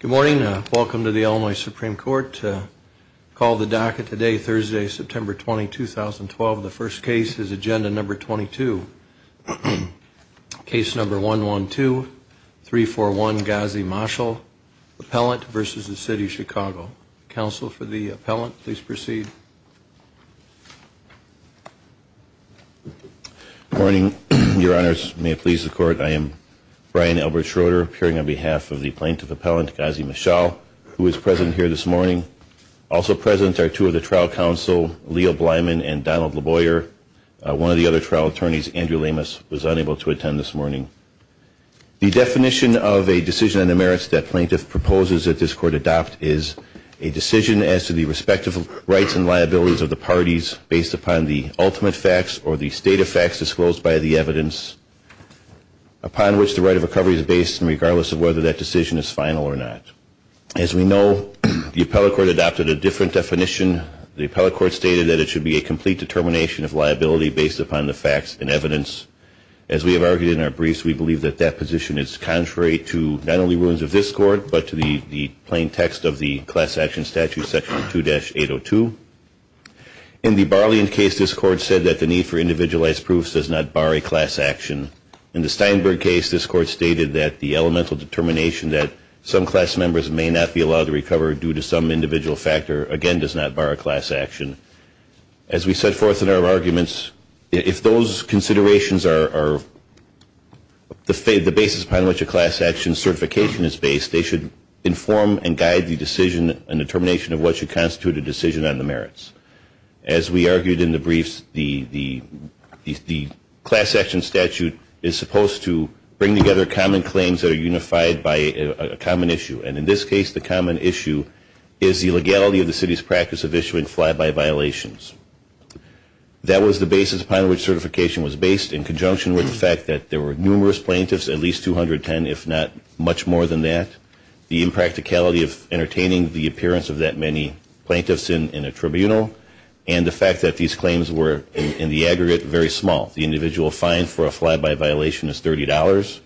Good morning. Welcome to the Illinois Supreme Court. Call the docket today Thursday, September 20, 2012. The first case is agenda number 22. Case number 112, 341 Ghazi Marshall, appellant versus the City of Chicago. Counsel for the appellant, please proceed. Good morning, your honors. May it please the court, I am Brian Albert Schroeder, appearing on behalf of the plaintiff appellant, Ghazi Marshall, who is present here this morning. Also present are two of the trial counsel, Leo Blyman and Donald LaBoyer. One of the other trial attorneys, Andrew Lamas, was unable to attend this morning. The definition of a decision on the merits that plaintiff proposes that this court adopt is a decision as to the respective rights and liabilities of the parties based upon the ultimate facts or the state of facts disclosed by the evidence upon which the right of recovery is based, and regardless of whether that decision is final or not. As we know, the appellate court adopted a different definition. The appellate court stated that it should be a complete determination of liability based upon the facts and evidence. As we have argued in our briefs, we believe that that position is contrary to not only rules of this court, but to the plain text of the class action statute, section 2-802. In the Barlean case, this court said that the need for individualized proofs does not bar a class action. In the Barlean case, this court said that the elemental determination that some class members may not be allowed to recover due to some individual factor, again, does not bar a class action. As we set forth in our arguments, if those considerations are the basis upon which a class action certification is based, they should inform and guide the decision and determination of what should constitute a decision on the merits. As we argued in the briefs, the class action statute is supposed to bring together common claims that are unified by a common issue. And in this case, the common issue is the legality of the city's practice of issuing fly-by violations. That was the basis upon which certification was based in conjunction with the fact that there were numerous plaintiffs, at least 210, if not much more than that, the impracticality of entertaining the appearance of that many plaintiffs in a tribunal, and the fact that these claims were, in the aggregate, very small. The individual fine for a fly-by violation is $30.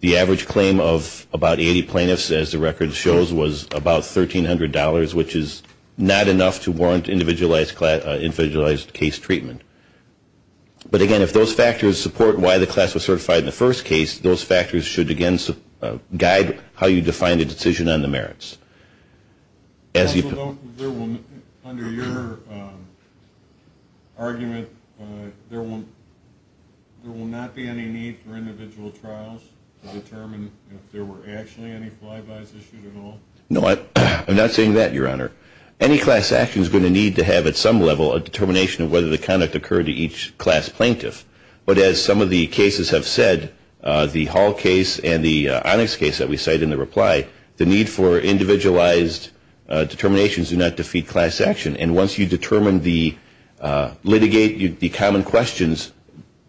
The average claim of about 80 plaintiffs, as the record shows, was about $1,300, which is not enough to warrant individualized case treatment. But again, if those factors support why the class was certified in the first case, those factors should, again, guide how you define a decision on the merits. Also note, under your argument, there will not be any need for individual trials to determine if there were actually any fly-bys issued at all? No, I'm not saying that, Your Honor. Any class action is going to need to have, at some level, a determination of whether the conduct occurred to each class plaintiff. But as some of the cases have said, the Hall case and the Onyx case that we cite in the reply, the need for individualized determinations do not defeat class action. And once you determine the common questions,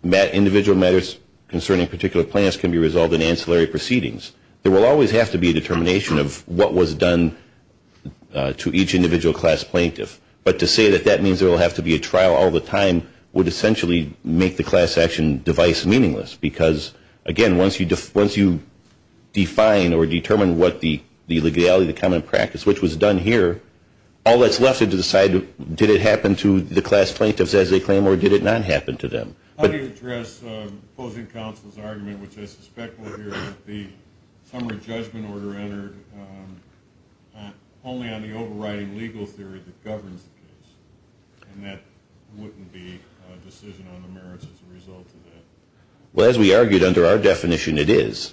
individual matters concerning particular plans can be resolved in ancillary proceedings. There will always have to be a determination of what was done to each individual class plaintiff. But to say that that means there will have to be a trial all the time would essentially make the class action device meaningless. Because, again, once you define or determine what the legality, the common practice, which was done here, all that's left is to decide, did it happen to the class plaintiffs as they claim, or did it not happen to them? How do you address opposing counsel's argument, which I suspect will appear that the summary judgment order entered only on the overriding legal theory that governs the case, and that wouldn't be a decision on the merits as a result of that? Well, as we argued under our definition, it is.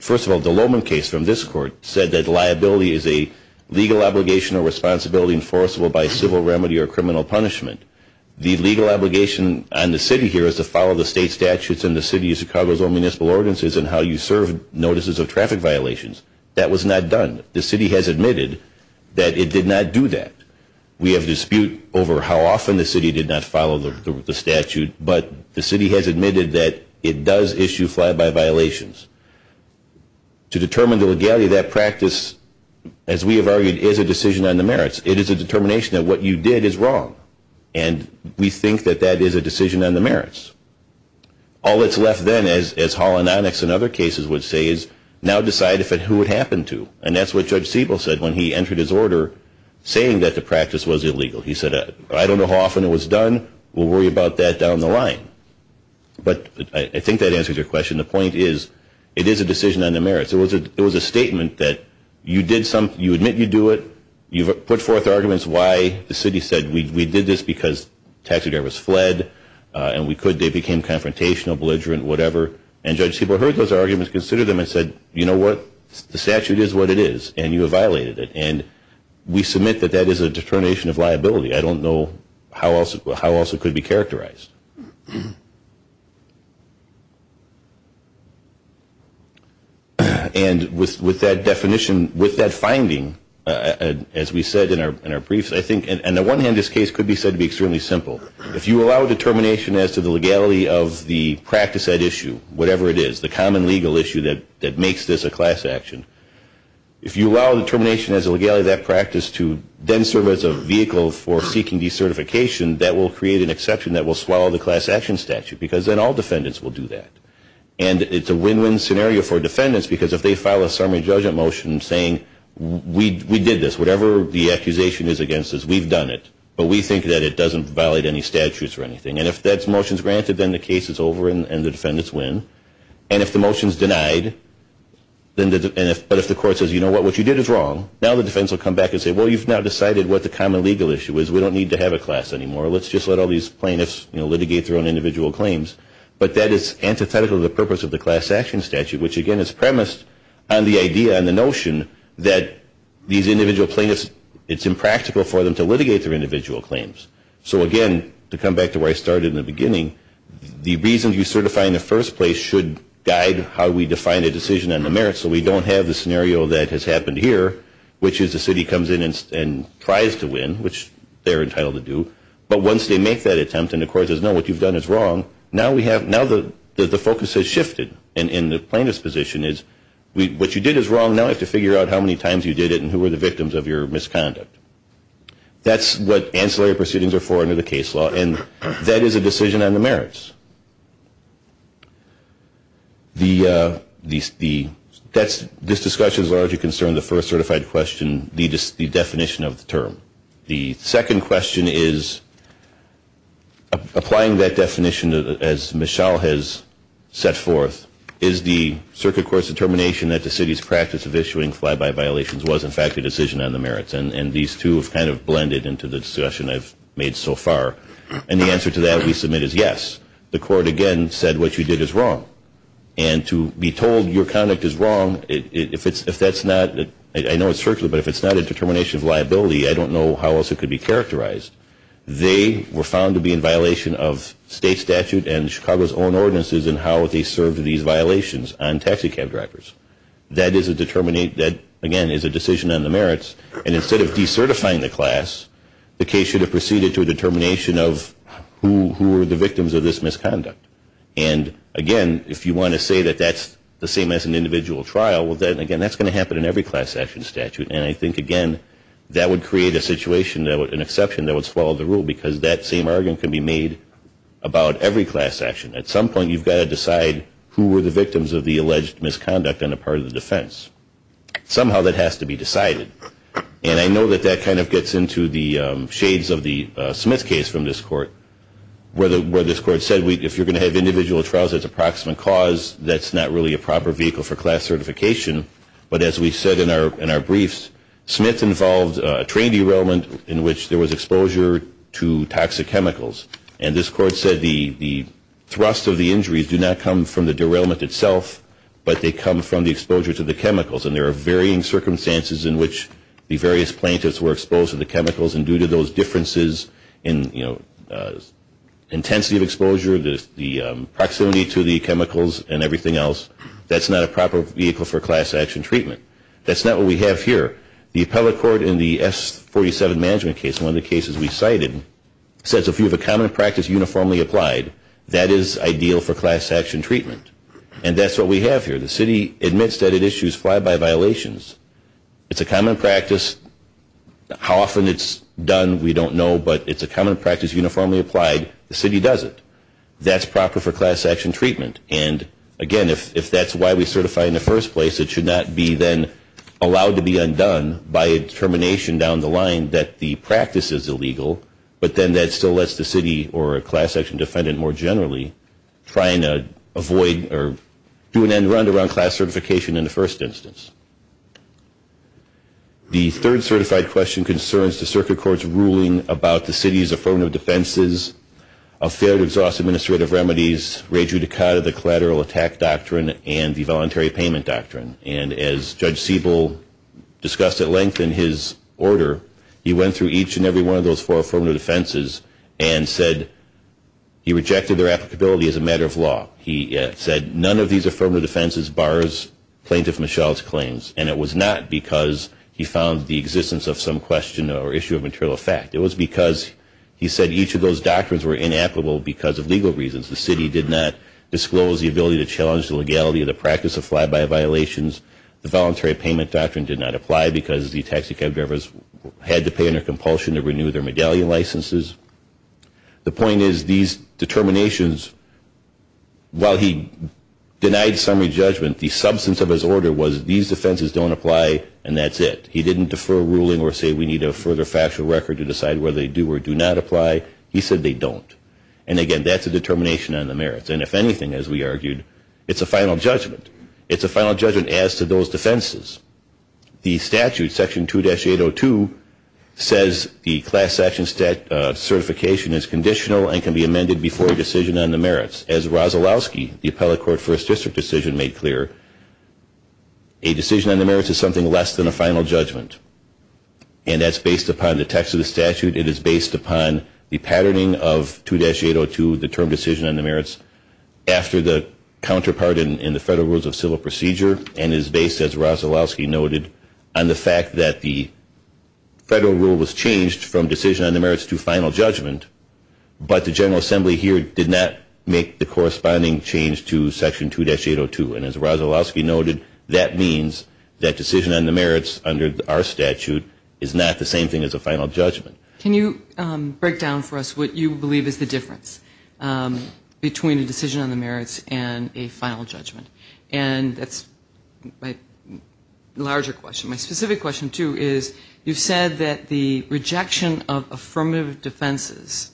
First of all, the Lohman case from this court said that liability is a legal obligation or responsibility enforceable by civil remedy or criminal punishment. The legal obligation on the city here is to follow the state statutes and the city of Chicago's own municipal ordinances and how you serve notices of traffic violations. That was not done. The city has admitted that it did not do that. We have dispute over how often the city did not follow the statute, but the city has admitted that it does issue fly-by violations. To determine the legality of that practice, as we have argued, is a decision on the merits. It is a determination that what you did is wrong, and we think that that is a decision on the merits. All that's left then, as Hall and Onyx and other cases would say, is now decide who it happened to. And that's what Judge Siebel said when he entered his order saying that the practice was illegal. He said, I don't know how often it was done. We'll worry about that down the line. But I think that answers your question. The point is, it is a decision on the merits. It was a statement that you admit you do it. You've put forth arguments why the city said we did this because taxidermists fled, and they became confrontational, belligerent, whatever. And Judge Siebel heard those arguments, considered them, and said, you know what, the statute is what it is, and you have violated it. And we submit that that is a determination of liability. I don't know how else it could be characterized. And with that definition, with that finding, as we said in our briefs, I think on the one hand this case could be said to be extremely simple. If you allow determination as to the legality of the practice at issue, whatever it is, the common legal issue that makes this a class action, if you allow determination as a legality of that practice to then serve as a vehicle for seeking decertification, that will create an exception that will swallow the class action statute because then all defendants will do that. And it's a win-win scenario for defendants because if they file a summary judgment motion saying, we did this, whatever the accusation is against us, we've done it, but we think that it doesn't violate any statutes or anything. And if that motion is granted, then the case is over and the defendants win. And if the motion is denied, but if the court says, you know what, what you did is wrong, now the defendants will come back and say, well, you've now decided what the common legal issue is. We don't need to have a class anymore. Let's just let all these plaintiffs litigate their own individual claims. But that is antithetical to the purpose of the class action statute, which again is premised on the idea and the notion that these individual plaintiffs, it's impractical for them to litigate their individual claims. So again, to come back to where I started in the beginning, the reason you certify in the first place should guide how we define a decision on the merits so we don't have the scenario that has happened here, which is the city comes in and tries to win, which they're entitled to do. But once they make that attempt and the court says, no, what you've done is wrong, now the focus has shifted. And the plaintiff's position is, what you did is wrong, now I have to figure out how many times you did it and who were the victims of your misconduct. That's what ancillary proceedings are for under the case law, and that is a decision on the merits. This discussion is largely concerned with the first certified question, the definition of the term. The second question is, applying that definition as Michelle has set forth, is the circuit court's determination that the city's practice of issuing fly-by violations was in fact a decision on the merits? And these two have kind of blended into the discussion I've made so far. And the answer to that we submit is yes. The court, again, said what you did is wrong. And to be told your conduct is wrong, if that's not, I know it's circular, but if it's not a determination of liability, I don't know how else it could be characterized. They were found to be in violation of state statute and Chicago's own ordinances in how they served these violations on taxi cab drivers. That, again, is a decision on the merits. And instead of decertifying the class, the case should have proceeded to a determination of who were the victims of this misconduct. And, again, if you want to say that that's the same as an individual trial, well, then, again, that's going to happen in every class action statute. And I think, again, that would create a situation, an exception that would swallow the rule because that same argument can be made about every class action. At some point you've got to decide who were the victims of the alleged misconduct on the part of the defense. Somehow that has to be decided. And I know that that kind of gets into the shades of the Smith case from this court, where this court said if you're going to have individual trials as a proximate cause, that's not really a proper vehicle for class certification. But as we said in our briefs, Smith involved a trained derailment in which there was exposure to toxic chemicals. And this court said the thrust of the injuries do not come from the derailment itself, but they come from the exposure to the chemicals. And there are varying circumstances in which the various plaintiffs were exposed to the chemicals, and due to those differences in, you know, intensity of exposure, the proximity to the chemicals and everything else, that's not a proper vehicle for class action treatment. That's not what we have here. The appellate court in the S47 management case, one of the cases we cited, says if you have a common practice uniformly applied, that is ideal for class action treatment. And that's what we have here. The city admits that it issues fly-by violations. It's a common practice. How often it's done we don't know, but it's a common practice uniformly applied. The city does it. That's proper for class action treatment. And, again, if that's why we certify in the first place, it should not be then allowed to be undone by a determination down the line that the practice is illegal, but then that still lets the city or a class action defendant more generally try and avoid or do an end-run to run class certification in the first instance. The third certified question concerns the circuit court's ruling about the city's affirmative defenses of failed exhaust administrative remedies, rejudicata, the collateral attack doctrine, and the voluntary payment doctrine. And as Judge Siebel discussed at length in his order, he went through each and every one of those four affirmative defenses and said he rejected their applicability as a matter of law. He said none of these affirmative defenses bars Plaintiff Mischel's claims, and it was not because he found the existence of some question or issue of material effect. It was because he said each of those doctrines were inapplicable because of legal reasons. The city did not disclose the ability to challenge the legality of the practice of fly-by violations. The voluntary payment doctrine did not apply because the taxicab drivers had to pay under compulsion to renew their medallion licenses. The point is these determinations, while he denied summary judgment, the substance of his order was these defenses don't apply and that's it. He didn't defer ruling or say we need a further factual record to decide whether they do or do not apply. He said they don't. And again, that's a determination on the merits. And if anything, as we argued, it's a final judgment. It's a final judgment as to those defenses. The statute, section 2-802, says the class action certification is conditional and can be amended before a decision on the merits. As Rozalowski, the appellate court first district decision, made clear, a decision on the merits is something less than a final judgment. And that's based upon the text of the statute. It is based upon the patterning of 2-802, the term decision on the merits, after the counterpart in the Federal Rules of Civil Procedure and is based, as Rozalowski noted, on the fact that the Federal Rule was changed from decision on the merits to final judgment, but the General Assembly here did not make the corresponding change to section 2-802. And as Rozalowski noted, that means that decision on the merits under our statute is not the same thing as a final judgment. Can you break down for us what you believe is the difference between a decision on the merits and a final judgment? And that's my larger question. My specific question, too, is you said that the rejection of affirmative defenses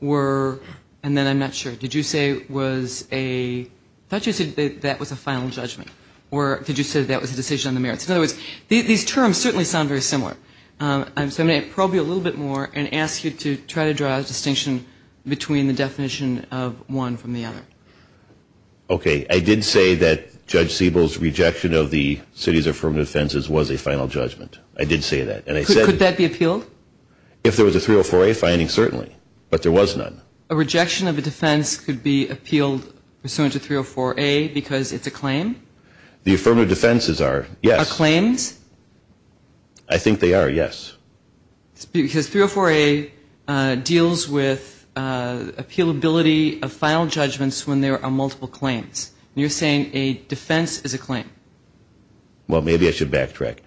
were, and then I'm not sure, did you say was a, I thought you said that was a final judgment, or did you say that was a decision on the merits? In other words, these terms certainly sound very similar. So I'm going to probe you a little bit more and ask you to try to draw a distinction between the definition of one from the other. Okay. I did say that Judge Siebel's rejection of the city's affirmative defenses was a final judgment. I did say that. Could that be appealed? If there was a 304A finding, certainly, but there was none. A rejection of a defense could be appealed pursuant to 304A because it's a claim? The affirmative defenses are, yes. Are claims? I think they are, yes. Because 304A deals with appealability of final judgments when there are multiple claims. You're saying a defense is a claim. Well, maybe I should backtrack.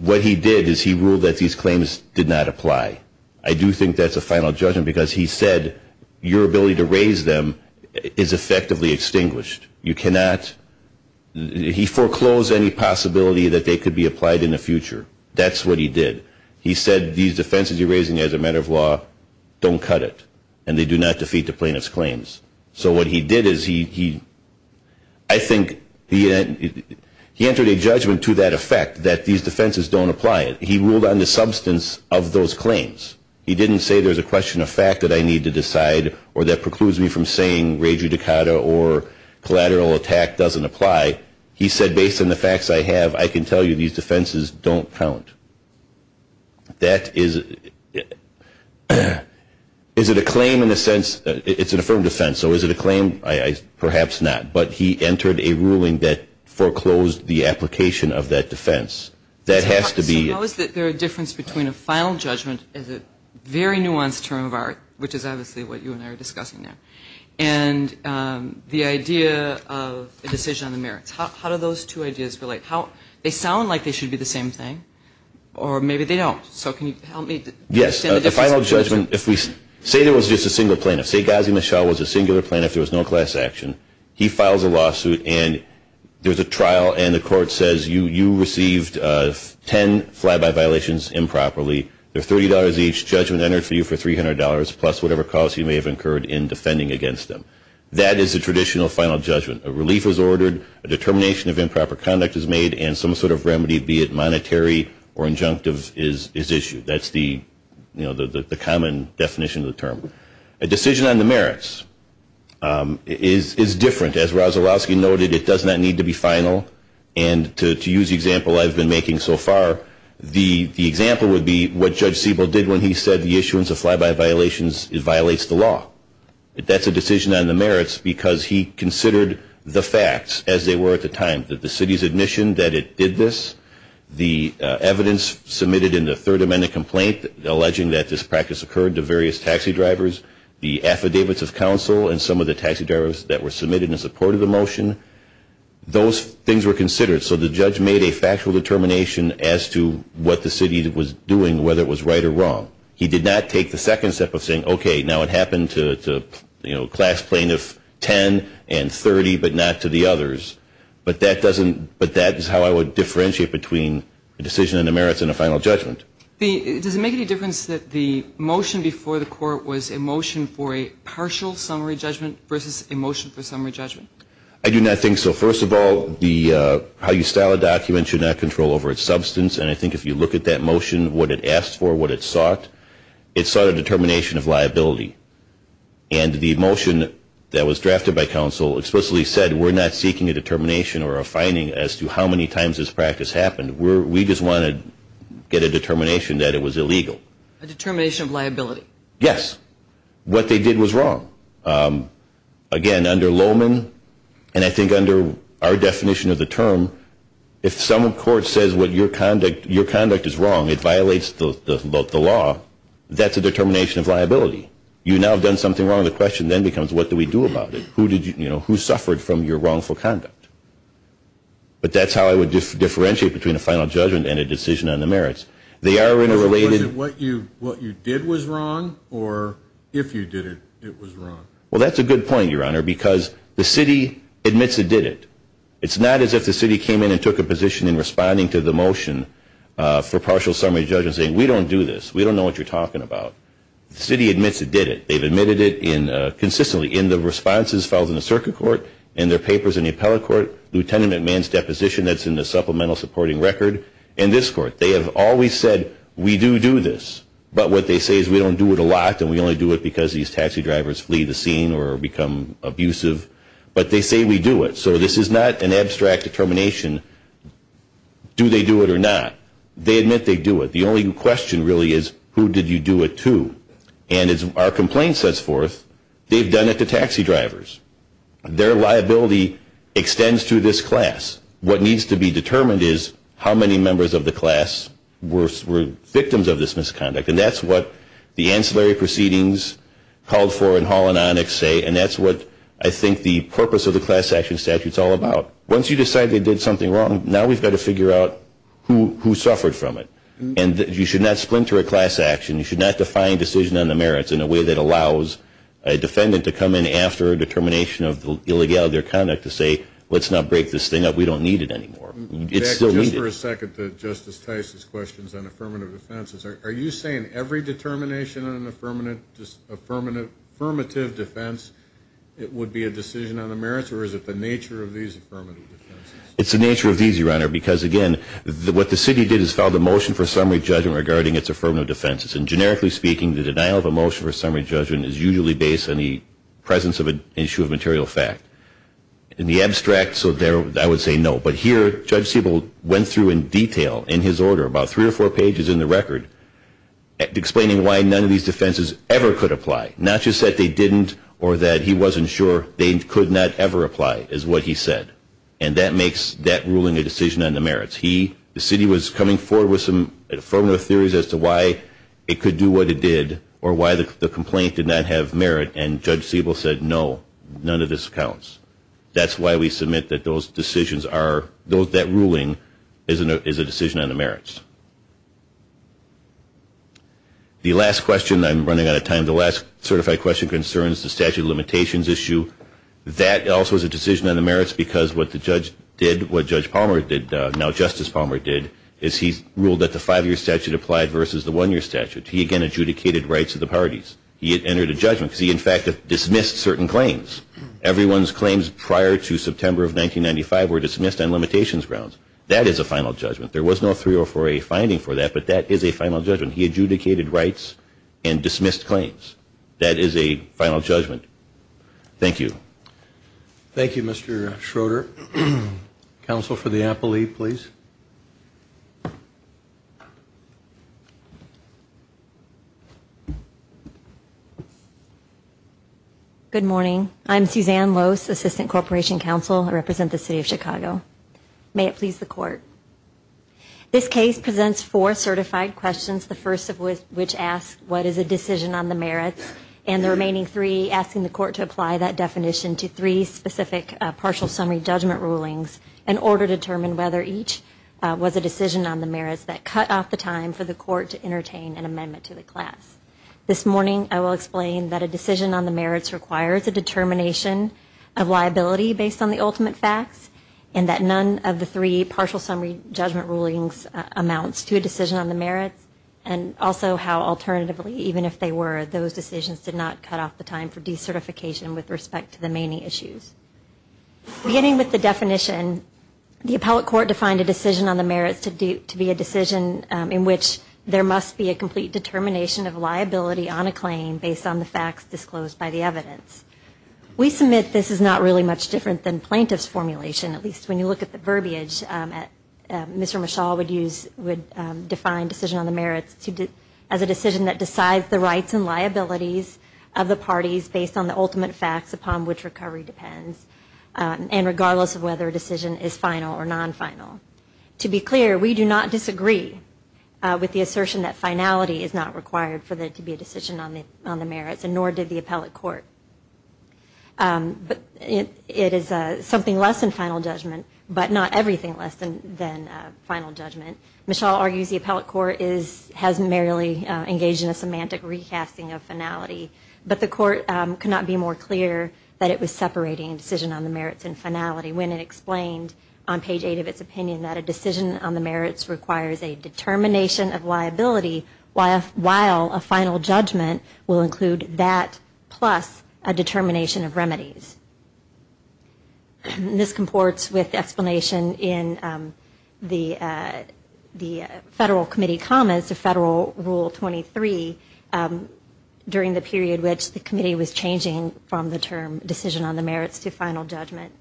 What he did is he ruled that these claims did not apply. I do think that's a final judgment because he said your ability to raise them is effectively extinguished. You cannot ‑‑ he foreclosed any possibility that they could be applied in the future. That's what he did. He said these defenses you're raising as a matter of law don't cut it, and they do not defeat the plaintiff's claims. So what he did is he ‑‑ I think he entered a judgment to that effect, that these defenses don't apply. He ruled on the substance of those claims. He didn't say there's a question of fact that I need to decide or that precludes me from saying rejudicata or collateral attack doesn't apply. He said based on the facts I have, I can tell you these defenses don't count. That is ‑‑ is it a claim in a sense? It's an affirmed defense. So is it a claim? Perhaps not. But he entered a ruling that foreclosed the application of that defense. That has to be ‑‑ How is there a difference between a final judgment as a very nuanced term of art, which is obviously what you and I are discussing there, and the idea of a decision on the merits? How do those two ideas relate? They sound like they should be the same thing, or maybe they don't. So can you help me understand the difference? Yes, a final judgment, if we say there was just a singular plaintiff, say Ghazi Mishal was a singular plaintiff, there was no class action, he files a lawsuit and there's a trial, and the court says you received 10 fly‑by violations improperly, they're $30 each, judgment entered for you for $300, plus whatever cost you may have incurred in defending against them. That is a traditional final judgment. A relief is ordered, a determination of improper conduct is made, and some sort of remedy, be it monetary or injunctive, is issued. That's the common definition of the term. A decision on the merits is different. As Rozalowski noted, it does not need to be final, and to use the example I've been making so far, the example would be what Judge Siebel did when he said the issuance of fly‑by violations violates the law. That's a decision on the merits because he considered the facts as they were at the time, that the city's admission that it did this, the evidence submitted in the Third Amendment complaint alleging that this practice occurred to various taxi drivers, the affidavits of counsel, and some of the taxi drivers that were submitted in support of the motion, those things were considered. So the judge made a factual determination as to what the city was doing, whether it was right or wrong. He did not take the second step of saying, okay, now it happened to a class plaintiff, 10 and 30, but not to the others. But that is how I would differentiate between a decision on the merits and a final judgment. Does it make any difference that the motion before the court was a motion for a summary judgment versus a motion for summary judgment? I do not think so. First of all, how you style a document should not control over its substance. And I think if you look at that motion, what it asked for, what it sought, it sought a determination of liability. And the motion that was drafted by counsel explicitly said, we're not seeking a determination or a finding as to how many times this practice happened. We just want to get a determination that it was illegal. A determination of liability. Yes. What they did was wrong. Again, under Lowman, and I think under our definition of the term, if some court says what your conduct is wrong, it violates the law, that's a determination of liability. You now have done something wrong, the question then becomes, what do we do about it? Who suffered from your wrongful conduct? But that's how I would differentiate between a final judgment and a decision on the merits. Was it what you did was wrong, or if you did it, it was wrong? Well, that's a good point, Your Honor, because the city admits it did it. It's not as if the city came in and took a position in responding to the motion for partial summary judgment saying, we don't do this, we don't know what you're talking about. The city admits it did it. They've admitted it consistently in the responses filed in the circuit court, in their papers in the appellate court, Lieutenant McMahon's deposition that's in the supplemental supporting record, and this court. They have always said, we do do this. But what they say is, we don't do it a lot, and we only do it because these taxi drivers flee the scene or become abusive. But they say we do it. So this is not an abstract determination, do they do it or not? They admit they do it. The only question really is, who did you do it to? And as our complaint sets forth, they've done it to taxi drivers. Their liability extends to this class. What needs to be determined is how many members of the class were victims of this misconduct. And that's what the ancillary proceedings called for in Hall and Onyx say, and that's what I think the purpose of the class action statute is all about. Once you decide they did something wrong, now we've got to figure out who suffered from it. And you should not splinter a class action. You should not define decision on the merits in a way that allows a defendant to come in after a determination of the illegality of their conduct to say, let's not break this thing up, we don't need it anymore. It's still needed. Back just for a second to Justice Tice's questions on affirmative defenses. Are you saying every determination on an affirmative defense, it would be a decision on the merits, or is it the nature of these affirmative defenses? It's the nature of these, Your Honor, because, again, what the city did is filed a motion for summary judgment regarding its affirmative defenses. And generically speaking, the denial of a motion for summary judgment is usually based on the presence of an issue of material fact. In the abstract, I would say no. But here, Judge Siebel went through in detail in his order, about three or four pages in the record, explaining why none of these defenses ever could apply. Not just that they didn't or that he wasn't sure they could not ever apply, is what he said. And that makes that ruling a decision on the merits. The city was coming forward with some affirmative theories as to why it could do what it did or why the complaint did not have merit. And Judge Siebel said, no, none of this counts. That's why we submit that those decisions are, that ruling is a decision on the merits. The last question, I'm running out of time, the last certified question concerns the statute of limitations issue. That also is a decision on the merits because what the judge did, what Judge Palmer did, now Justice Palmer did, is he ruled that the five-year statute applied versus the one-year statute. He, again, adjudicated rights of the parties. He had entered a judgment because he, in fact, dismissed certain claims. Everyone's claims prior to September of 1995 were dismissed on limitations grounds. That is a final judgment. There was no 304A finding for that, but that is a final judgment. He adjudicated rights and dismissed claims. That is a final judgment. Thank you. Thank you, Mr. Schroeder. Counsel for the appellee, please. Good morning. I'm Suzanne Lose, Assistant Corporation Counsel. I represent the City of Chicago. May it please the Court. This case presents four certified questions, the first of which asks what is a decision on the merits, and the remaining three asking the Court to apply that definition to three specific partial summary judgment rulings in order to determine whether each was a decision on the merits that cut off the time for the Court to entertain an amendment to the class. This morning I will explain that a decision on the merits requires a determination of liability based on the ultimate facts, and that none of the three partial summary judgment rulings amounts to a decision on the merits, and also how alternatively, even if they were, those decisions did not cut off the time for decertification with respect to the remaining issues. Beginning with the definition, the appellate court defined a decision on the merits to be a decision in which there must be a complete determination of liability on a claim based on the facts disclosed by the evidence. We submit this is not really much different than plaintiff's formulation, at least when you look at the verbiage. Mr. Mishaw would define decision on the merits as a decision that decides the whether a decision is final or non-final. To be clear, we do not disagree with the assertion that finality is not required for there to be a decision on the merits, and nor did the appellate court. It is something less than final judgment, but not everything less than final judgment. Mishaw argues the appellate court has merely engaged in a semantic recasting of finality, but the court could not be more clear that it was separating a decision on the merits and finality when it explained on page 8 of its opinion that a decision on the merits requires a determination of liability while a final judgment will include that plus a determination of remedies. This comports with the explanation in the Federal Committee comments of Federal Rule 23 during the period which the committee was changing from the term decision on the merits to final judgment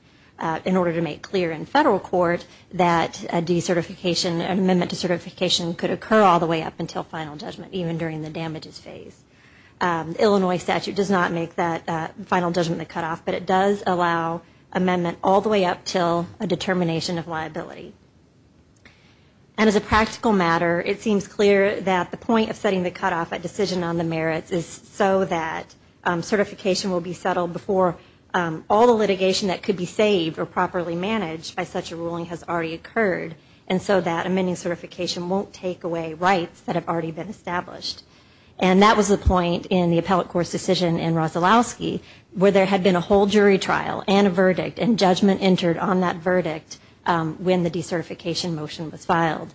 in order to make clear in Federal court that a de-certification, an amendment to certification could occur all the way up until final judgment, even during the damages phase. Illinois statute does not make that final judgment the cutoff, but it does allow amendment all the way up until a determination of liability. And as a practical matter, it seems clear that the point of setting the cutoff at decision on the merits is so that certification will be settled before all the litigation that could be saved or properly managed by such a ruling has already occurred, and so that amending certification won't take away rights that have already been established. And that was the point in the appellate court's decision in Rosolowski where there had been a whole jury trial and a verdict, and judgment entered on that verdict when the de-certification motion was filed.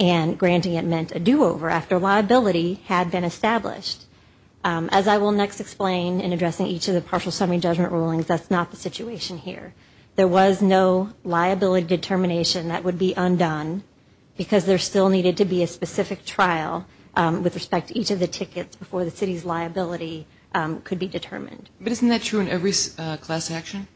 And granting it meant a do-over after liability had been established. As I will next explain in addressing each of the partial summary judgment rulings, that's not the situation here. There was no liability determination that would be undone because there still needed to be a specific trial with respect to each of the tickets before the city's liability could be determined. But isn't that true in every class action?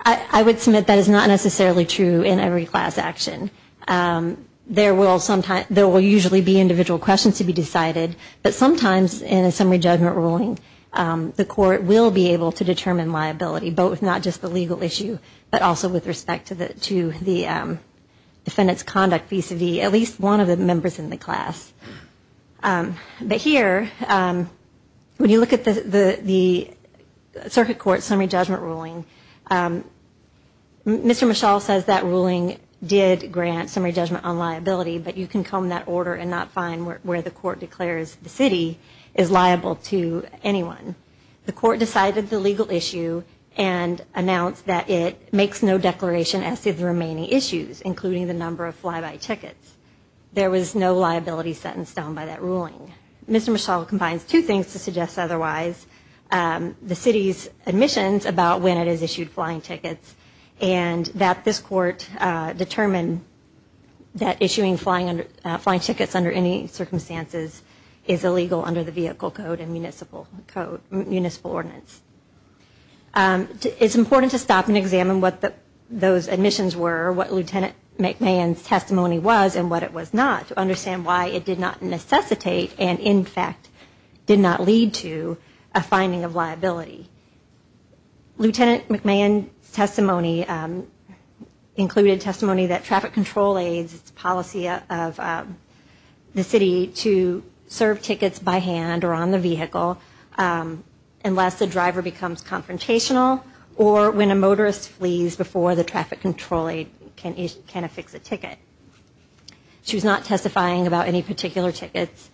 I would submit that is not necessarily true in every class action. There will usually be individual questions to be decided, but sometimes in a summary judgment ruling, the court will be able to determine liability, both not just the legal issue, but also with respect to the defendant's conduct vis-à-vis at least one of the members in the class. But here, when you look at the circuit court's summary judgment ruling, Mr. Michal says that ruling did grant summary judgment on liability, but you can comb that order and not find where the court declares the city is liable to anyone. The court decided the legal issue and announced that it makes no declaration as to the remaining issues, including the number of fly-by tickets. There was no liability sentenced down by that ruling. Mr. Michal combines two things to suggest otherwise. The city's admissions about when it has issued flying tickets and that this court determined that issuing flying tickets under any circumstances is illegal under the vehicle code and municipal ordinance. It's important to stop and examine what those admissions were, what Lieutenant McMahon's testimony was and what it was not, to understand why it did not necessitate and, in fact, did not lead to a finding of liability. Lieutenant McMahon's testimony included testimony that traffic control aids, policy of the city, to serve tickets by hand or on the vehicle unless the driver becomes confrontational or when a motorist flees before the traffic control aid can affix a ticket. She was not testifying about any particular tickets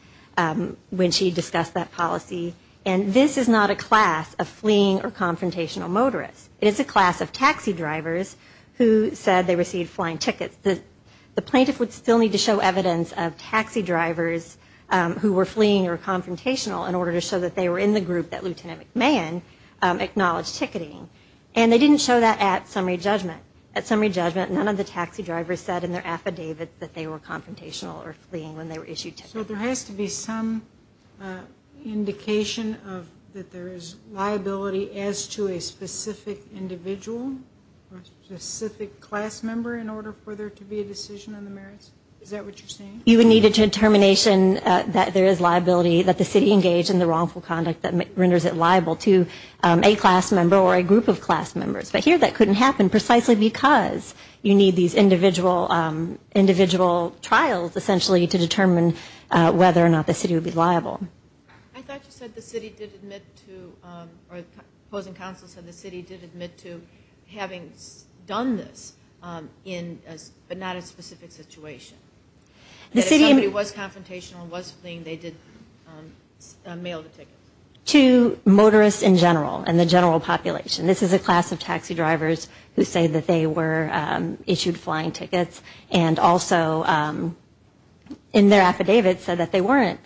when she discussed that policy. And this is not a class of fleeing or confrontational motorists. It is a class of taxi drivers who said they received flying tickets. The plaintiff would still need to show evidence of taxi drivers who were fleeing or confrontational in order to show that they were in the group that Lieutenant McMahon acknowledged ticketing. And they didn't show that at summary judgment. At summary judgment, none of the taxi drivers said in their affidavits that they were confrontational or fleeing when they were issued tickets. So there has to be some indication of that there is liability as to a specific individual or specific class member in order for there to be a decision on the merits? Is that what you're saying? You would need a determination that there is liability, that the city engaged in the wrongful conduct that renders it liable to a class member or a group of class members. But here that couldn't happen precisely because you need these individual trials essentially to determine whether or not the city would be liable. I thought you said the city did admit to, or opposing counsel said the city did admit to having done this, but not in a specific situation. That if somebody was confrontational and was fleeing, they did mail the tickets. To motorists in general and the general population. This is a class of taxi drivers who say that they were issued flying tickets and also in their affidavits said that they weren't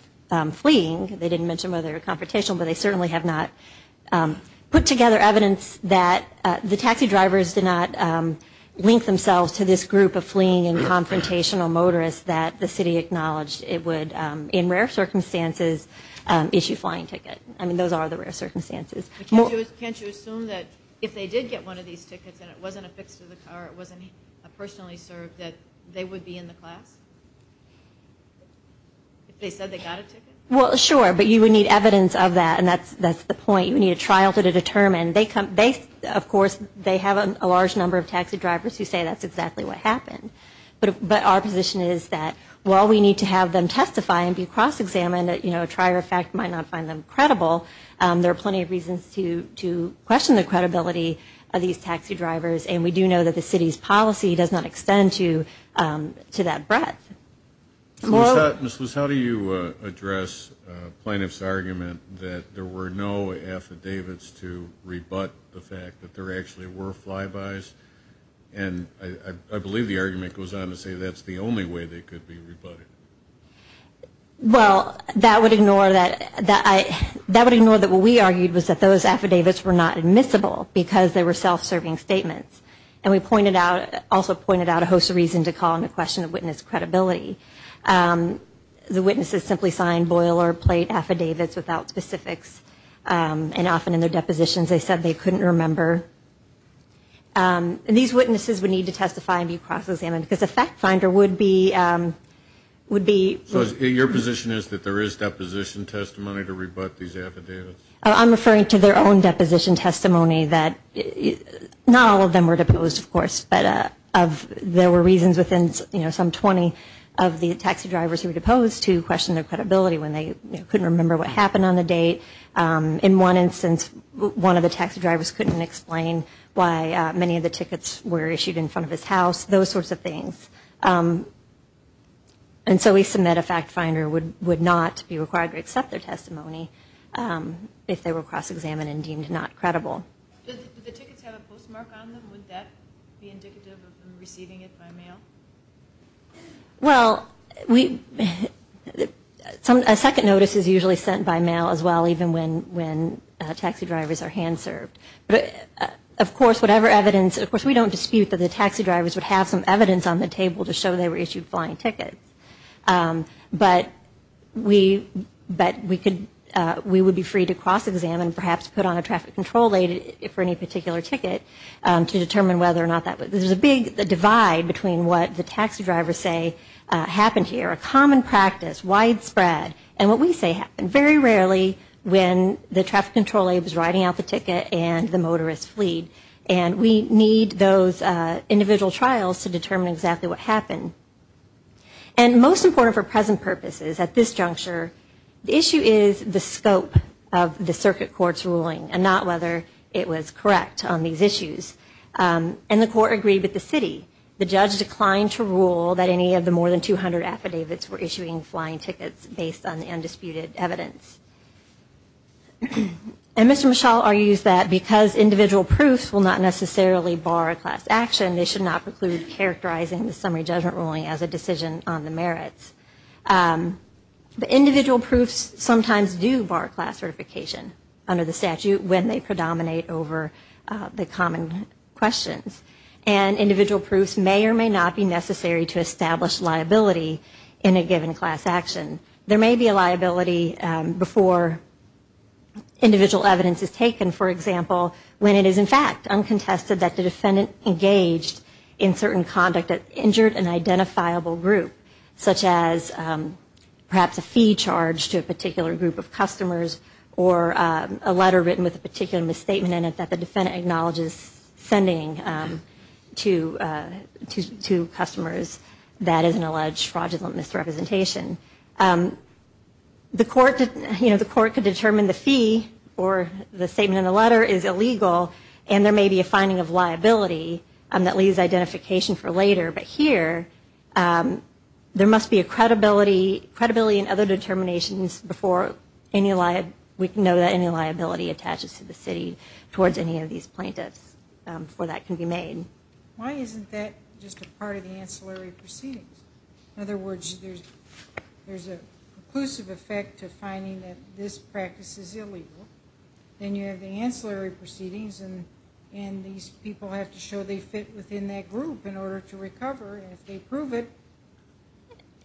fleeing. They didn't mention whether they were confrontational, but they certainly have not put together evidence that the taxi drivers did not link themselves to this group of fleeing and confrontational motorists that the city acknowledged it would, in rare circumstances, issue flying tickets. I mean, those are the rare circumstances. Can't you assume that if they did get one of these tickets and it wasn't affixed to the car, it wasn't personally served, that they would be in the class? If they said they got a ticket? Well, sure, but you would need evidence of that, and that's the point. You would need a trial to determine. Of course, they have a large number of taxi drivers who say that's exactly what happened. But our position is that while we need to have them testify and be cross-examined, you know, a trier of fact might not find them credible, there are plenty of reasons to question the credibility of these taxi drivers, and we do know that the city's policy does not extend to that breadth. Ms. Luce, how do you address plaintiff's argument that there were no affidavits to rebut the fact that there actually were flybys? And I believe the argument goes on to say that's the only way they could be rebutted. Well, that would ignore that what we argued was that those affidavits were not admissible because they were self-serving statements, and we also pointed out a host of reasons to call into question the witness credibility. The witnesses simply signed boilerplate affidavits without specifics, and often in their depositions they said they couldn't remember. And these witnesses would need to testify and be cross-examined because a fact finder would be... So your position is that there is deposition testimony to rebut these affidavits? I'm referring to their own deposition testimony that not all of them were deposed, of course, but there were reasons within, you know, some 20 of the taxi drivers who were deposed to question their credibility when they couldn't remember what happened on the date. In one instance, one of the taxi drivers couldn't explain why many of the tickets were issued in front of his house, those sorts of things. And so we submit a fact finder would not be required to accept their testimony if they were cross-examined and deemed not credible. Did the tickets have a postmark on them? Would that be indicative of them receiving it by mail? Well, a second notice is usually sent by mail as well, even when taxi drivers are hand-served. But, of course, whatever evidence... Of course, we don't dispute that the taxi drivers would have some evidence on the table to show they were issued flying tickets. But we would be free to cross-examine, perhaps put on a traffic control aid for any particular ticket to determine whether or not that... There's a big divide between what the taxi drivers say happened here, a common practice, widespread, and what we say happened. Very rarely when the traffic control aid was writing out the ticket and the motorist fleed. And we need those individual trials to determine exactly what happened. And most important for present purposes at this juncture, the issue is the scope of the circuit court's ruling and not whether it was correct on these issues. And the court agreed with the city. The judge declined to rule that any of the more than 200 affidavits were issuing flying tickets based on the undisputed evidence. And Mr. Mischel argues that because individual proofs will not necessarily bar class action, they should not preclude characterizing the summary judgment ruling as a decision on the merits. The individual proofs sometimes do bar class certification under the statute when they predominate over the common questions. And individual proofs may or may not be necessary to establish liability in a given class action. There may be a liability before individual evidence is taken, for example, when it is in fact uncontested that the defendant engaged in certain conduct that injured an identifiable group, such as perhaps a fee charge to a particular group of customers or a letter written with a particular misstatement in it that the defendant acknowledges sending to customers that is an alleged fraudulent misrepresentation. The court could determine the fee or the statement in the letter is illegal and there may be a finding of liability that leaves identification for later. But here, there must be a credibility and other determinations before we can know that any liability attaches to the city towards any of these plaintiffs before that can be made. Why isn't that just a part of the ancillary proceedings? In other words, there's a conclusive effect to finding that this practice is illegal. Then you have the ancillary proceedings, and these people have to show they fit within that group in order to recover, and if they prove it,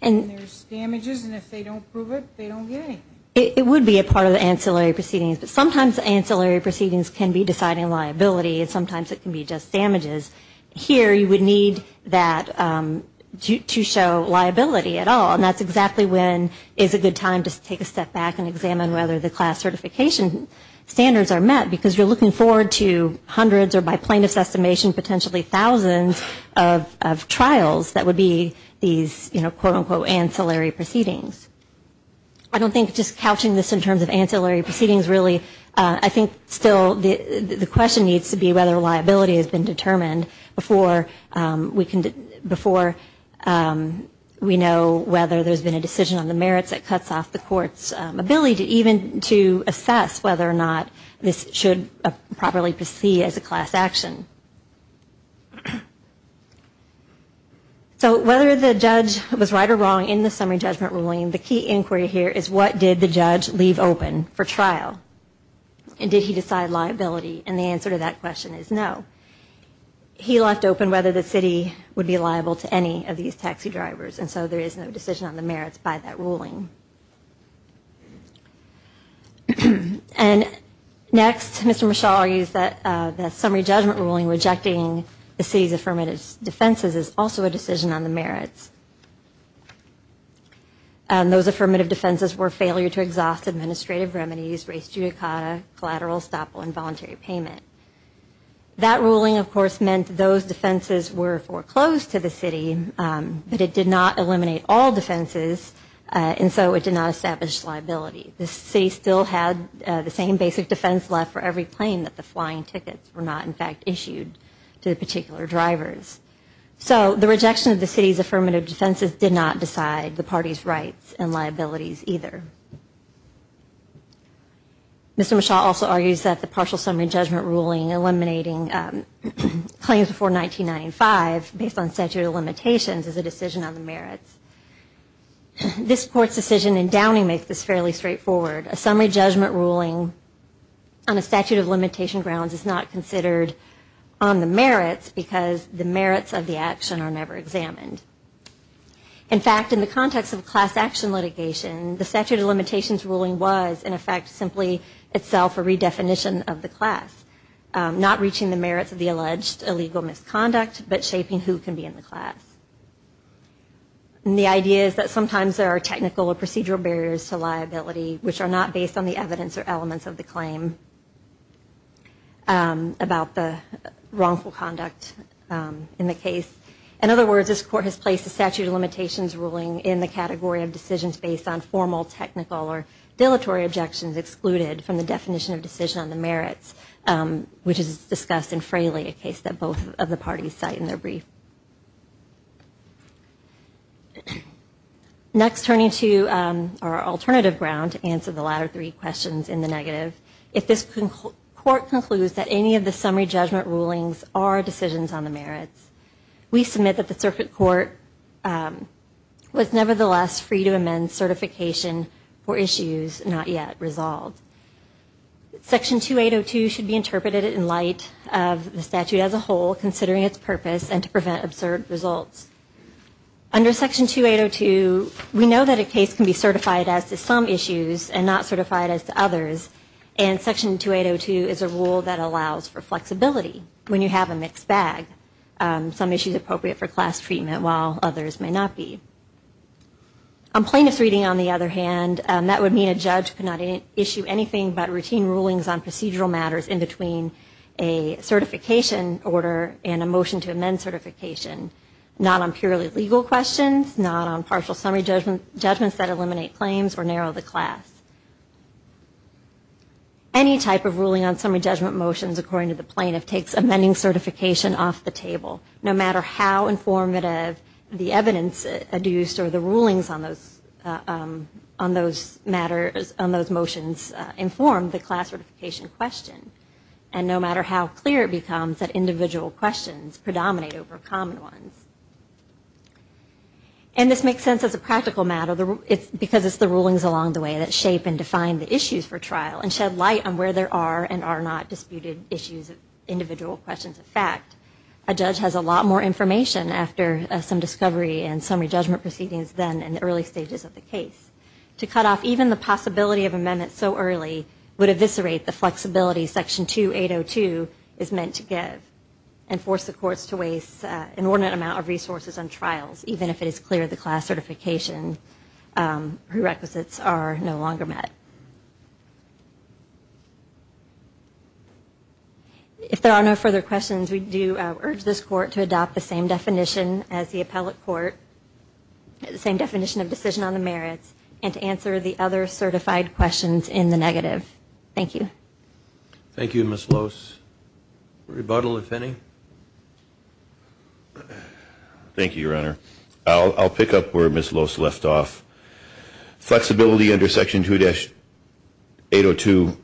then there's damages, and if they don't prove it, they don't get anything. It would be a part of the ancillary proceedings, but sometimes the ancillary proceedings can be deciding liability and sometimes it can be just damages. Here, you would need that to show liability at all, and that's exactly when is a good time to take a step back and examine whether the class certification standards are met, because you're looking forward to hundreds or, by plaintiff's estimation, potentially thousands of trials that would be these, you know, quote, unquote, ancillary proceedings. I don't think just couching this in terms of ancillary proceedings really, I think still the question needs to be whether liability has been determined before we know whether there's been a decision on the merits that cuts off the court's ability even to assess whether or not this should properly proceed as a class action. So whether the judge was right or wrong in the summary judgment ruling, the key inquiry here is what did the judge leave open for trial, and did he decide liability, and the answer to that question is no. He left open whether the city would be liable to any of these taxi drivers, and so there is no decision on the merits by that ruling. And next, Mr. Michaud argues that the summary judgment ruling rejecting the city's affirmative defenses is also a decision on the merits. Those affirmative defenses were failure to exhaust administrative remedies, race judicata, collateral estoppel, and voluntary payment. That ruling, of course, meant those defenses were foreclosed to the city, but it did not eliminate all defenses, and so it did not establish liability. The city still had the same basic defense left for every plane that the flying tickets were not, in fact, issued to the particular drivers. So the rejection of the city's affirmative defenses did not decide the party's rights and liabilities either. Mr. Michaud also argues that the partial summary judgment ruling eliminating claims before 1995 based on statute of limitations is a decision on the merits. This Court's decision in Downing makes this fairly straightforward. A summary judgment ruling on a statute of limitation grounds is not considered on the merits because the merits of the action are never examined. In fact, in the context of a class action litigation, the statute of limitations ruling was, in effect, simply itself a redefinition of the class, not reaching the merits of the alleged illegal misconduct, but shaping who can be in the class. And the idea is that sometimes there are technical or procedural barriers to liability which are not based on the evidence or elements of the claim about the wrongful conduct in the case. In other words, this Court has placed a statute of limitations ruling in the category of decisions based on formal, technical, or dilatory objections which is excluded from the definition of decision on the merits, which is discussed in Fraley, a case that both of the parties cite in their brief. Next, turning to our alternative ground to answer the latter three questions in the negative, if this Court concludes that any of the summary judgment rulings are decisions on the merits, we submit that the Circuit Court was nevertheless free to amend certification for issues not yet resolved. Section 2802 should be interpreted in light of the statute as a whole, considering its purpose, and to prevent absurd results. Under Section 2802, we know that a case can be certified as to some issues and not certified as to others, and Section 2802 is a rule that allows for flexibility when you have a mixed bag, some issues appropriate for class treatment while others may not be. On plaintiff's reading, on the other hand, that would mean a judge could not issue anything but routine rulings on procedural matters in between a certification order and a motion to amend certification, not on purely legal questions, not on partial summary judgments that eliminate claims or narrow the class. Any type of ruling on summary judgment motions according to the plaintiff takes amending certification off the table, no matter how informative the evidence adduced or the rulings on those motions inform the class certification question, and no matter how clear it becomes that individual questions predominate over common ones. And this makes sense as a practical matter because it's the rulings along the way that shape and define the issues for trial and shed light on where there are and are not disputed issues of individual questions of fact. A judge has a lot more information after some discovery and summary judgment proceedings than in the early stages of the case. To cut off even the possibility of amendments so early would eviscerate the flexibility Section 2802 is meant to give and force the courts to waste an inordinate amount of resources on trials, even if it is clear the class certification prerequisites are no longer met. If there are no further questions, we do urge this court to adopt the same definition as the appellate court, the same definition of decision on the merits, and to answer the other certified questions in the negative. Thank you. Thank you, Ms. Lose. Rebuttal, if any. Thank you, Your Honor. I'll pick up where Ms. Lose left off. Flexibility under Section 2802,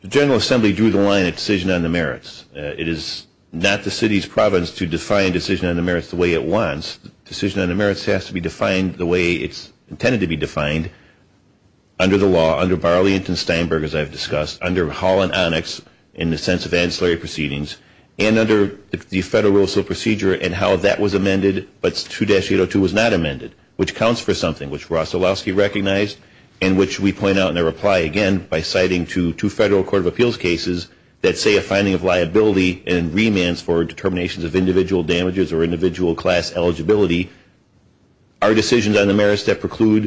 the General Assembly drew the line at decision on the merits. It is not the city's province to define decision on the merits the way it wants. Decision on the merits has to be defined the way it's intended to be defined under the law, under Barley and Steinberg, as I've discussed, under Hall and Onyx in the sense of ancillary proceedings, and under the Federal Rules of Procedure and how that was amended, but 2-802 was not amended, which counts for something, which Ross Olowski recognized and which we point out in a reply, again, by citing two Federal Court of Appeals cases that say a finding of liability and remands for determinations of individual damages or individual class eligibility are decisions on the merits that preclude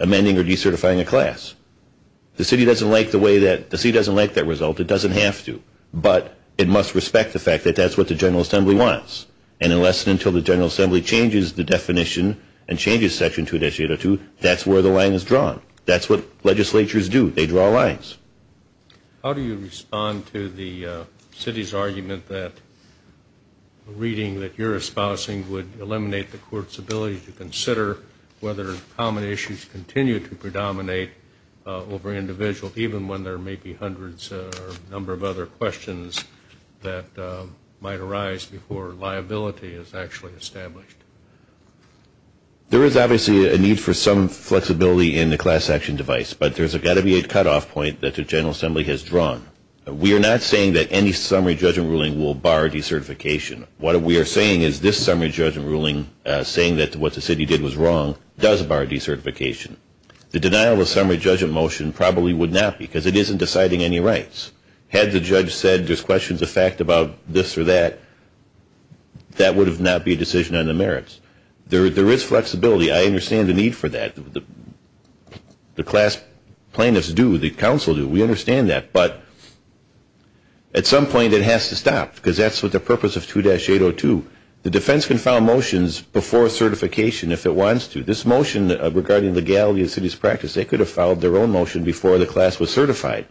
amending or decertifying a class. The city doesn't like that result. It doesn't have to, but it must respect the fact that that's what the General Assembly wants, and unless and until the General Assembly changes the definition and changes Section 2802, that's where the line is drawn. That's what legislatures do. They draw lines. How do you respond to the city's argument that reading that you're espousing would eliminate the Court's ability to consider whether common issues continue to predominate over individual, even when there may be hundreds or a number of other questions that might arise before liability is actually established? There is obviously a need for some flexibility in the class action device, but there's got to be a cutoff point that the General Assembly has drawn. We are not saying that any summary judgment ruling will bar decertification. What we are saying is this summary judgment ruling, saying that what the city did was wrong, does bar decertification. The denial of summary judgment motion probably would not because it isn't deciding any rights. Had the judge said there's questions of fact about this or that, that would not be a decision on the merits. There is flexibility. I understand the need for that. The class plaintiffs do. The council do. We understand that. But at some point it has to stop because that's what the purpose of 2-802. The defense can file motions before certification if it wants to. This motion regarding legality of city's practice, they could have filed their own motion before the class was certified.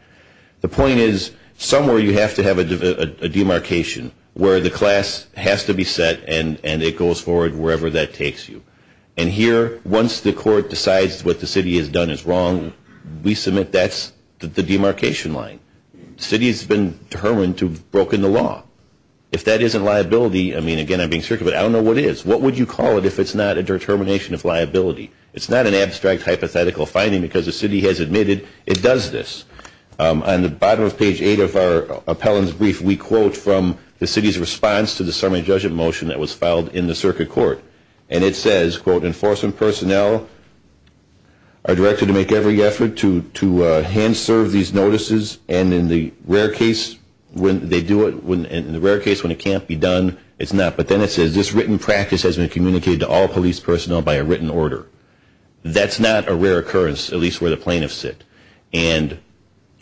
The point is somewhere you have to have a demarcation where the class has to be set and it goes forward wherever that takes you. And here, once the court decides what the city has done is wrong, we submit that's the demarcation line. The city has been determined to have broken the law. If that isn't liability, I mean, again, I'm being circumvent, I don't know what is. What would you call it if it's not a determination of liability? It's not an abstract hypothetical finding because the city has admitted it does this. On the bottom of page 8 of our appellant's brief, we quote from the city's response to the summary judgment motion that was filed in the circuit court. And it says, quote, enforcement personnel are directed to make every effort to hand serve these notices and in the rare case when they do it, in the rare case when it can't be done, it's not. But then it says this written practice has been communicated to all police personnel by a written order. That's not a rare occurrence, at least where the plaintiffs sit. And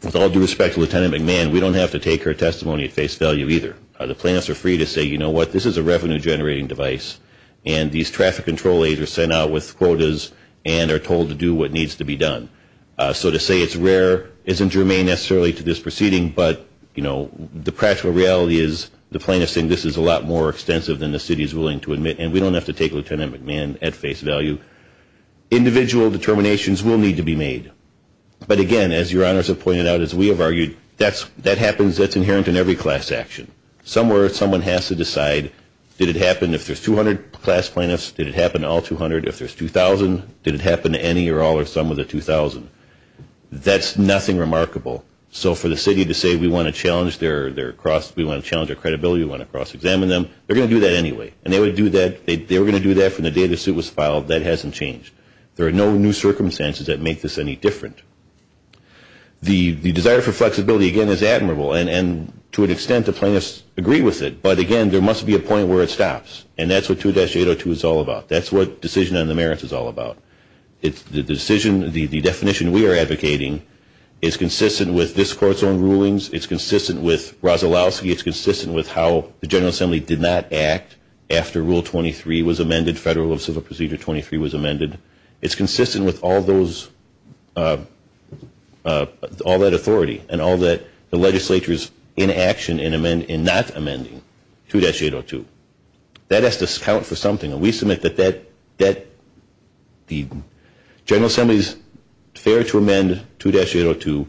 with all due respect to Lieutenant McMahon, we don't have to take her testimony at face value either. The plaintiffs are free to say, you know what, this is a revenue generating device. And these traffic control aides are sent out with quotas and are told to do what needs to be done. So to say it's rare isn't germane necessarily to this proceeding, but the practical reality is the plaintiffs think this is a lot more extensive than the city is willing to admit. And we don't have to take Lieutenant McMahon at face value. Individual determinations will need to be made. But again, as your honors have pointed out, as we have argued, that happens, that's inherent in every class action. Somewhere someone has to decide, did it happen if there's 200 class plaintiffs, did it happen to all 200? If there's 2,000, did it happen to any or all or some of the 2,000? That's nothing remarkable. So for the city to say we want to challenge their credibility, we want to cross-examine them, they're going to do that anyway. And they were going to do that from the day the suit was filed. That hasn't changed. There are no new circumstances that make this any different. The desire for flexibility, again, is admirable. And to an extent, the plaintiffs agree with it. But again, there must be a point where it stops. And that's what 2-802 is all about. That's what decision on the merits is all about. It's the decision, the definition we are advocating is consistent with this Court's own rulings. It's consistent with Rozalowski. It's consistent with how the General Assembly did not act after Rule 23 was amended, Federal Civil Procedure 23 was amended. It's consistent with all that authority and all that the legislature is in action in not amending 2-802. That has to account for something. And we submit that the General Assembly's fair to amend 2-802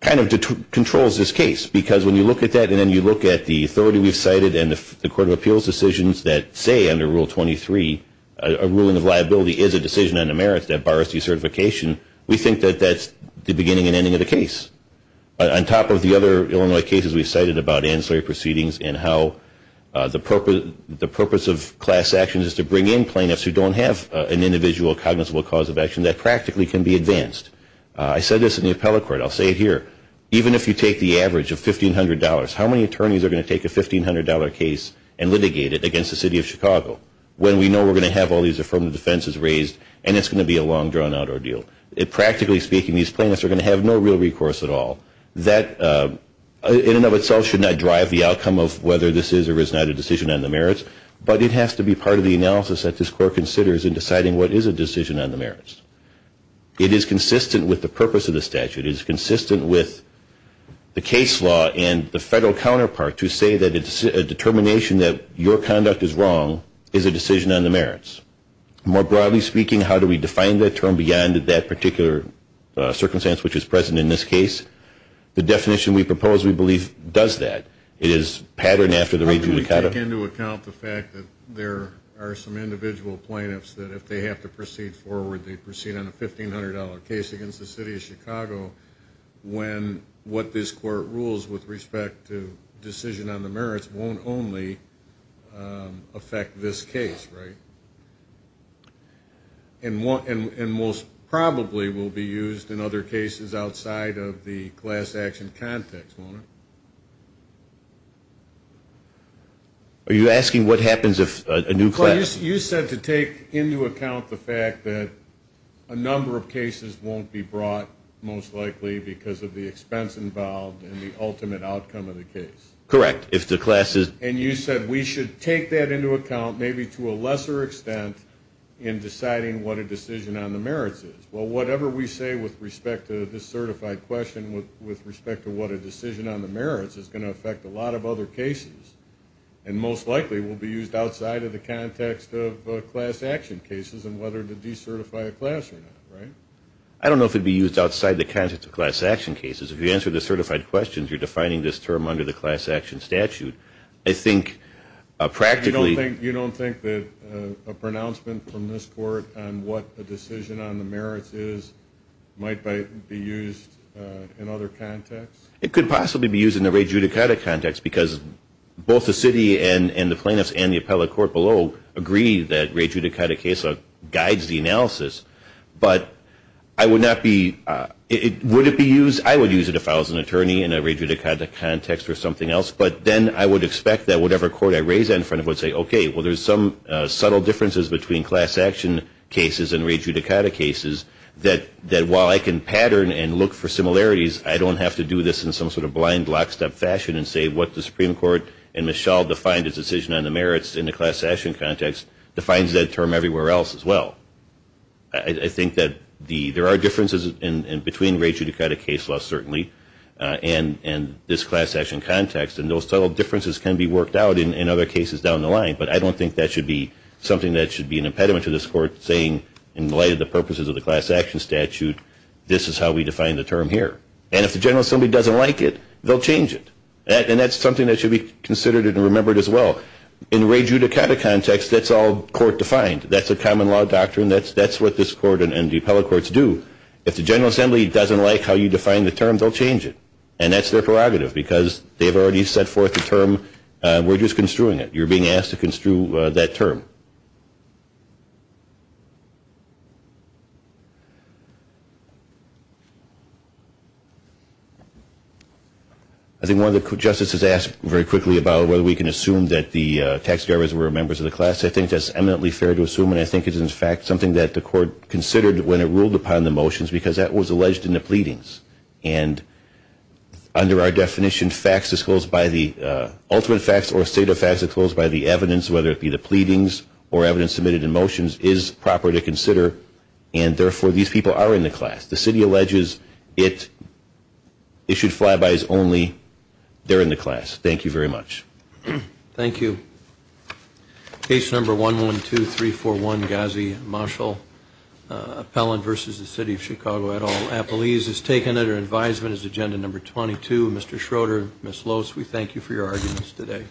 kind of controls this case. Because when you look at that and then you look at the authority we've cited and the Court of Appeals decisions that say under Rule 23, a ruling of liability is a decision on the merits that bars decertification, we think that that's the beginning and ending of the case. On top of the other Illinois cases we've cited about ancillary proceedings and how the purpose of class action is to bring in plaintiffs who don't have an individual cognizable cause of action that practically can be advanced. I said this in the appellate court. I'll say it here. Even if you take the average of $1,500, how many attorneys are going to take a $1,500 case and litigate it against the City of Chicago when we know we're going to have all these affirmative defenses raised and it's going to be a long, drawn-out ordeal? Practically speaking, these plaintiffs are going to have no real recourse at all. That in and of itself should not drive the outcome of whether this is or is not a decision on the merits, but it has to be part of the analysis that this Court considers in deciding what is a decision on the merits. It is consistent with the purpose of the statute. It is consistent with the case law and the federal counterpart to say that a determination that your conduct is wrong is a decision on the merits. More broadly speaking, how do we define that term beyond that particular circumstance which is present in this case? The definition we propose, we believe, does that. It is patterned after the region of Chicago. How do we take into account the fact that there are some individual plaintiffs that if they have to proceed forward, they proceed on a $1,500 case against the City of Chicago when what this Court rules with respect to decision on the merits won't only affect this case, right? And most probably will be used in other cases outside of the class action context, won't it? Are you asking what happens if a new class? You said to take into account the fact that a number of cases won't be brought, most likely because of the expense involved and the ultimate outcome of the case. Correct. And you said we should take that into account maybe to a lesser extent in deciding what a decision on the merits is. Well, whatever we say with respect to this certified question with respect to what a decision on the merits is going to affect a lot of other cases and most likely will be used outside of the context of class action cases and whether to decertify a class or not, right? I don't know if it would be used outside the context of class action cases. If you answer the certified questions, you're defining this term under the class action statute. I think practically... You don't think that a pronouncement from this Court on what a decision on the merits is might be used in other contexts? It could possibly be used in a re-judicata context because both the city and the plaintiffs and the appellate court below agree that re-judicata case guides the analysis. But I would not be... Would it be used? I would use it if I was an attorney in a re-judicata context or something else. But then I would expect that whatever court I raise it in front of would say, okay, well, there's some subtle differences between class action cases and re-judicata cases that while I can pattern and look for similarities, I don't have to do this in some sort of blind lockstep fashion and say what the Supreme Court and Michelle defined as decision on the merits in the class action context defines that term everywhere else as well. I think that there are differences between re-judicata case laws certainly and this class action context, and those subtle differences can be worked out in other cases down the line. But I don't think that should be something that should be an impediment to this Court saying, in light of the purposes of the class action statute, this is how we define the term here. And if the General Assembly doesn't like it, they'll change it. And that's something that should be considered and remembered as well. In re-judicata context, that's all court defined. That's a common law doctrine. That's what this Court and the appellate courts do. If the General Assembly doesn't like how you define the term, they'll change it. And that's their prerogative because they've already set forth the term. We're just construing it. You're being asked to construe that term. I think one of the justices asked very quickly about whether we can assume that the taxidermists were members of the class. I think that's eminently fair to assume, and I think it is, in fact, something that the Court considered when it ruled upon the motions because that was alleged in the pleadings. And under our definition, facts disclosed by the ultimate facts or state of facts disclosed by the evidence, whether it be the pleadings or evidence submitted in motions, is proper to consider. And therefore, these people are in the class. The city alleges it issued flybys only. They're in the class. Thank you very much. Thank you. Case number 112341, Ghazi Mashal. Appellant versus the city of Chicago et al. Appellees is taken under advisement as agenda number 22. Mr. Schroeder, Ms. Los, we thank you for your arguments today.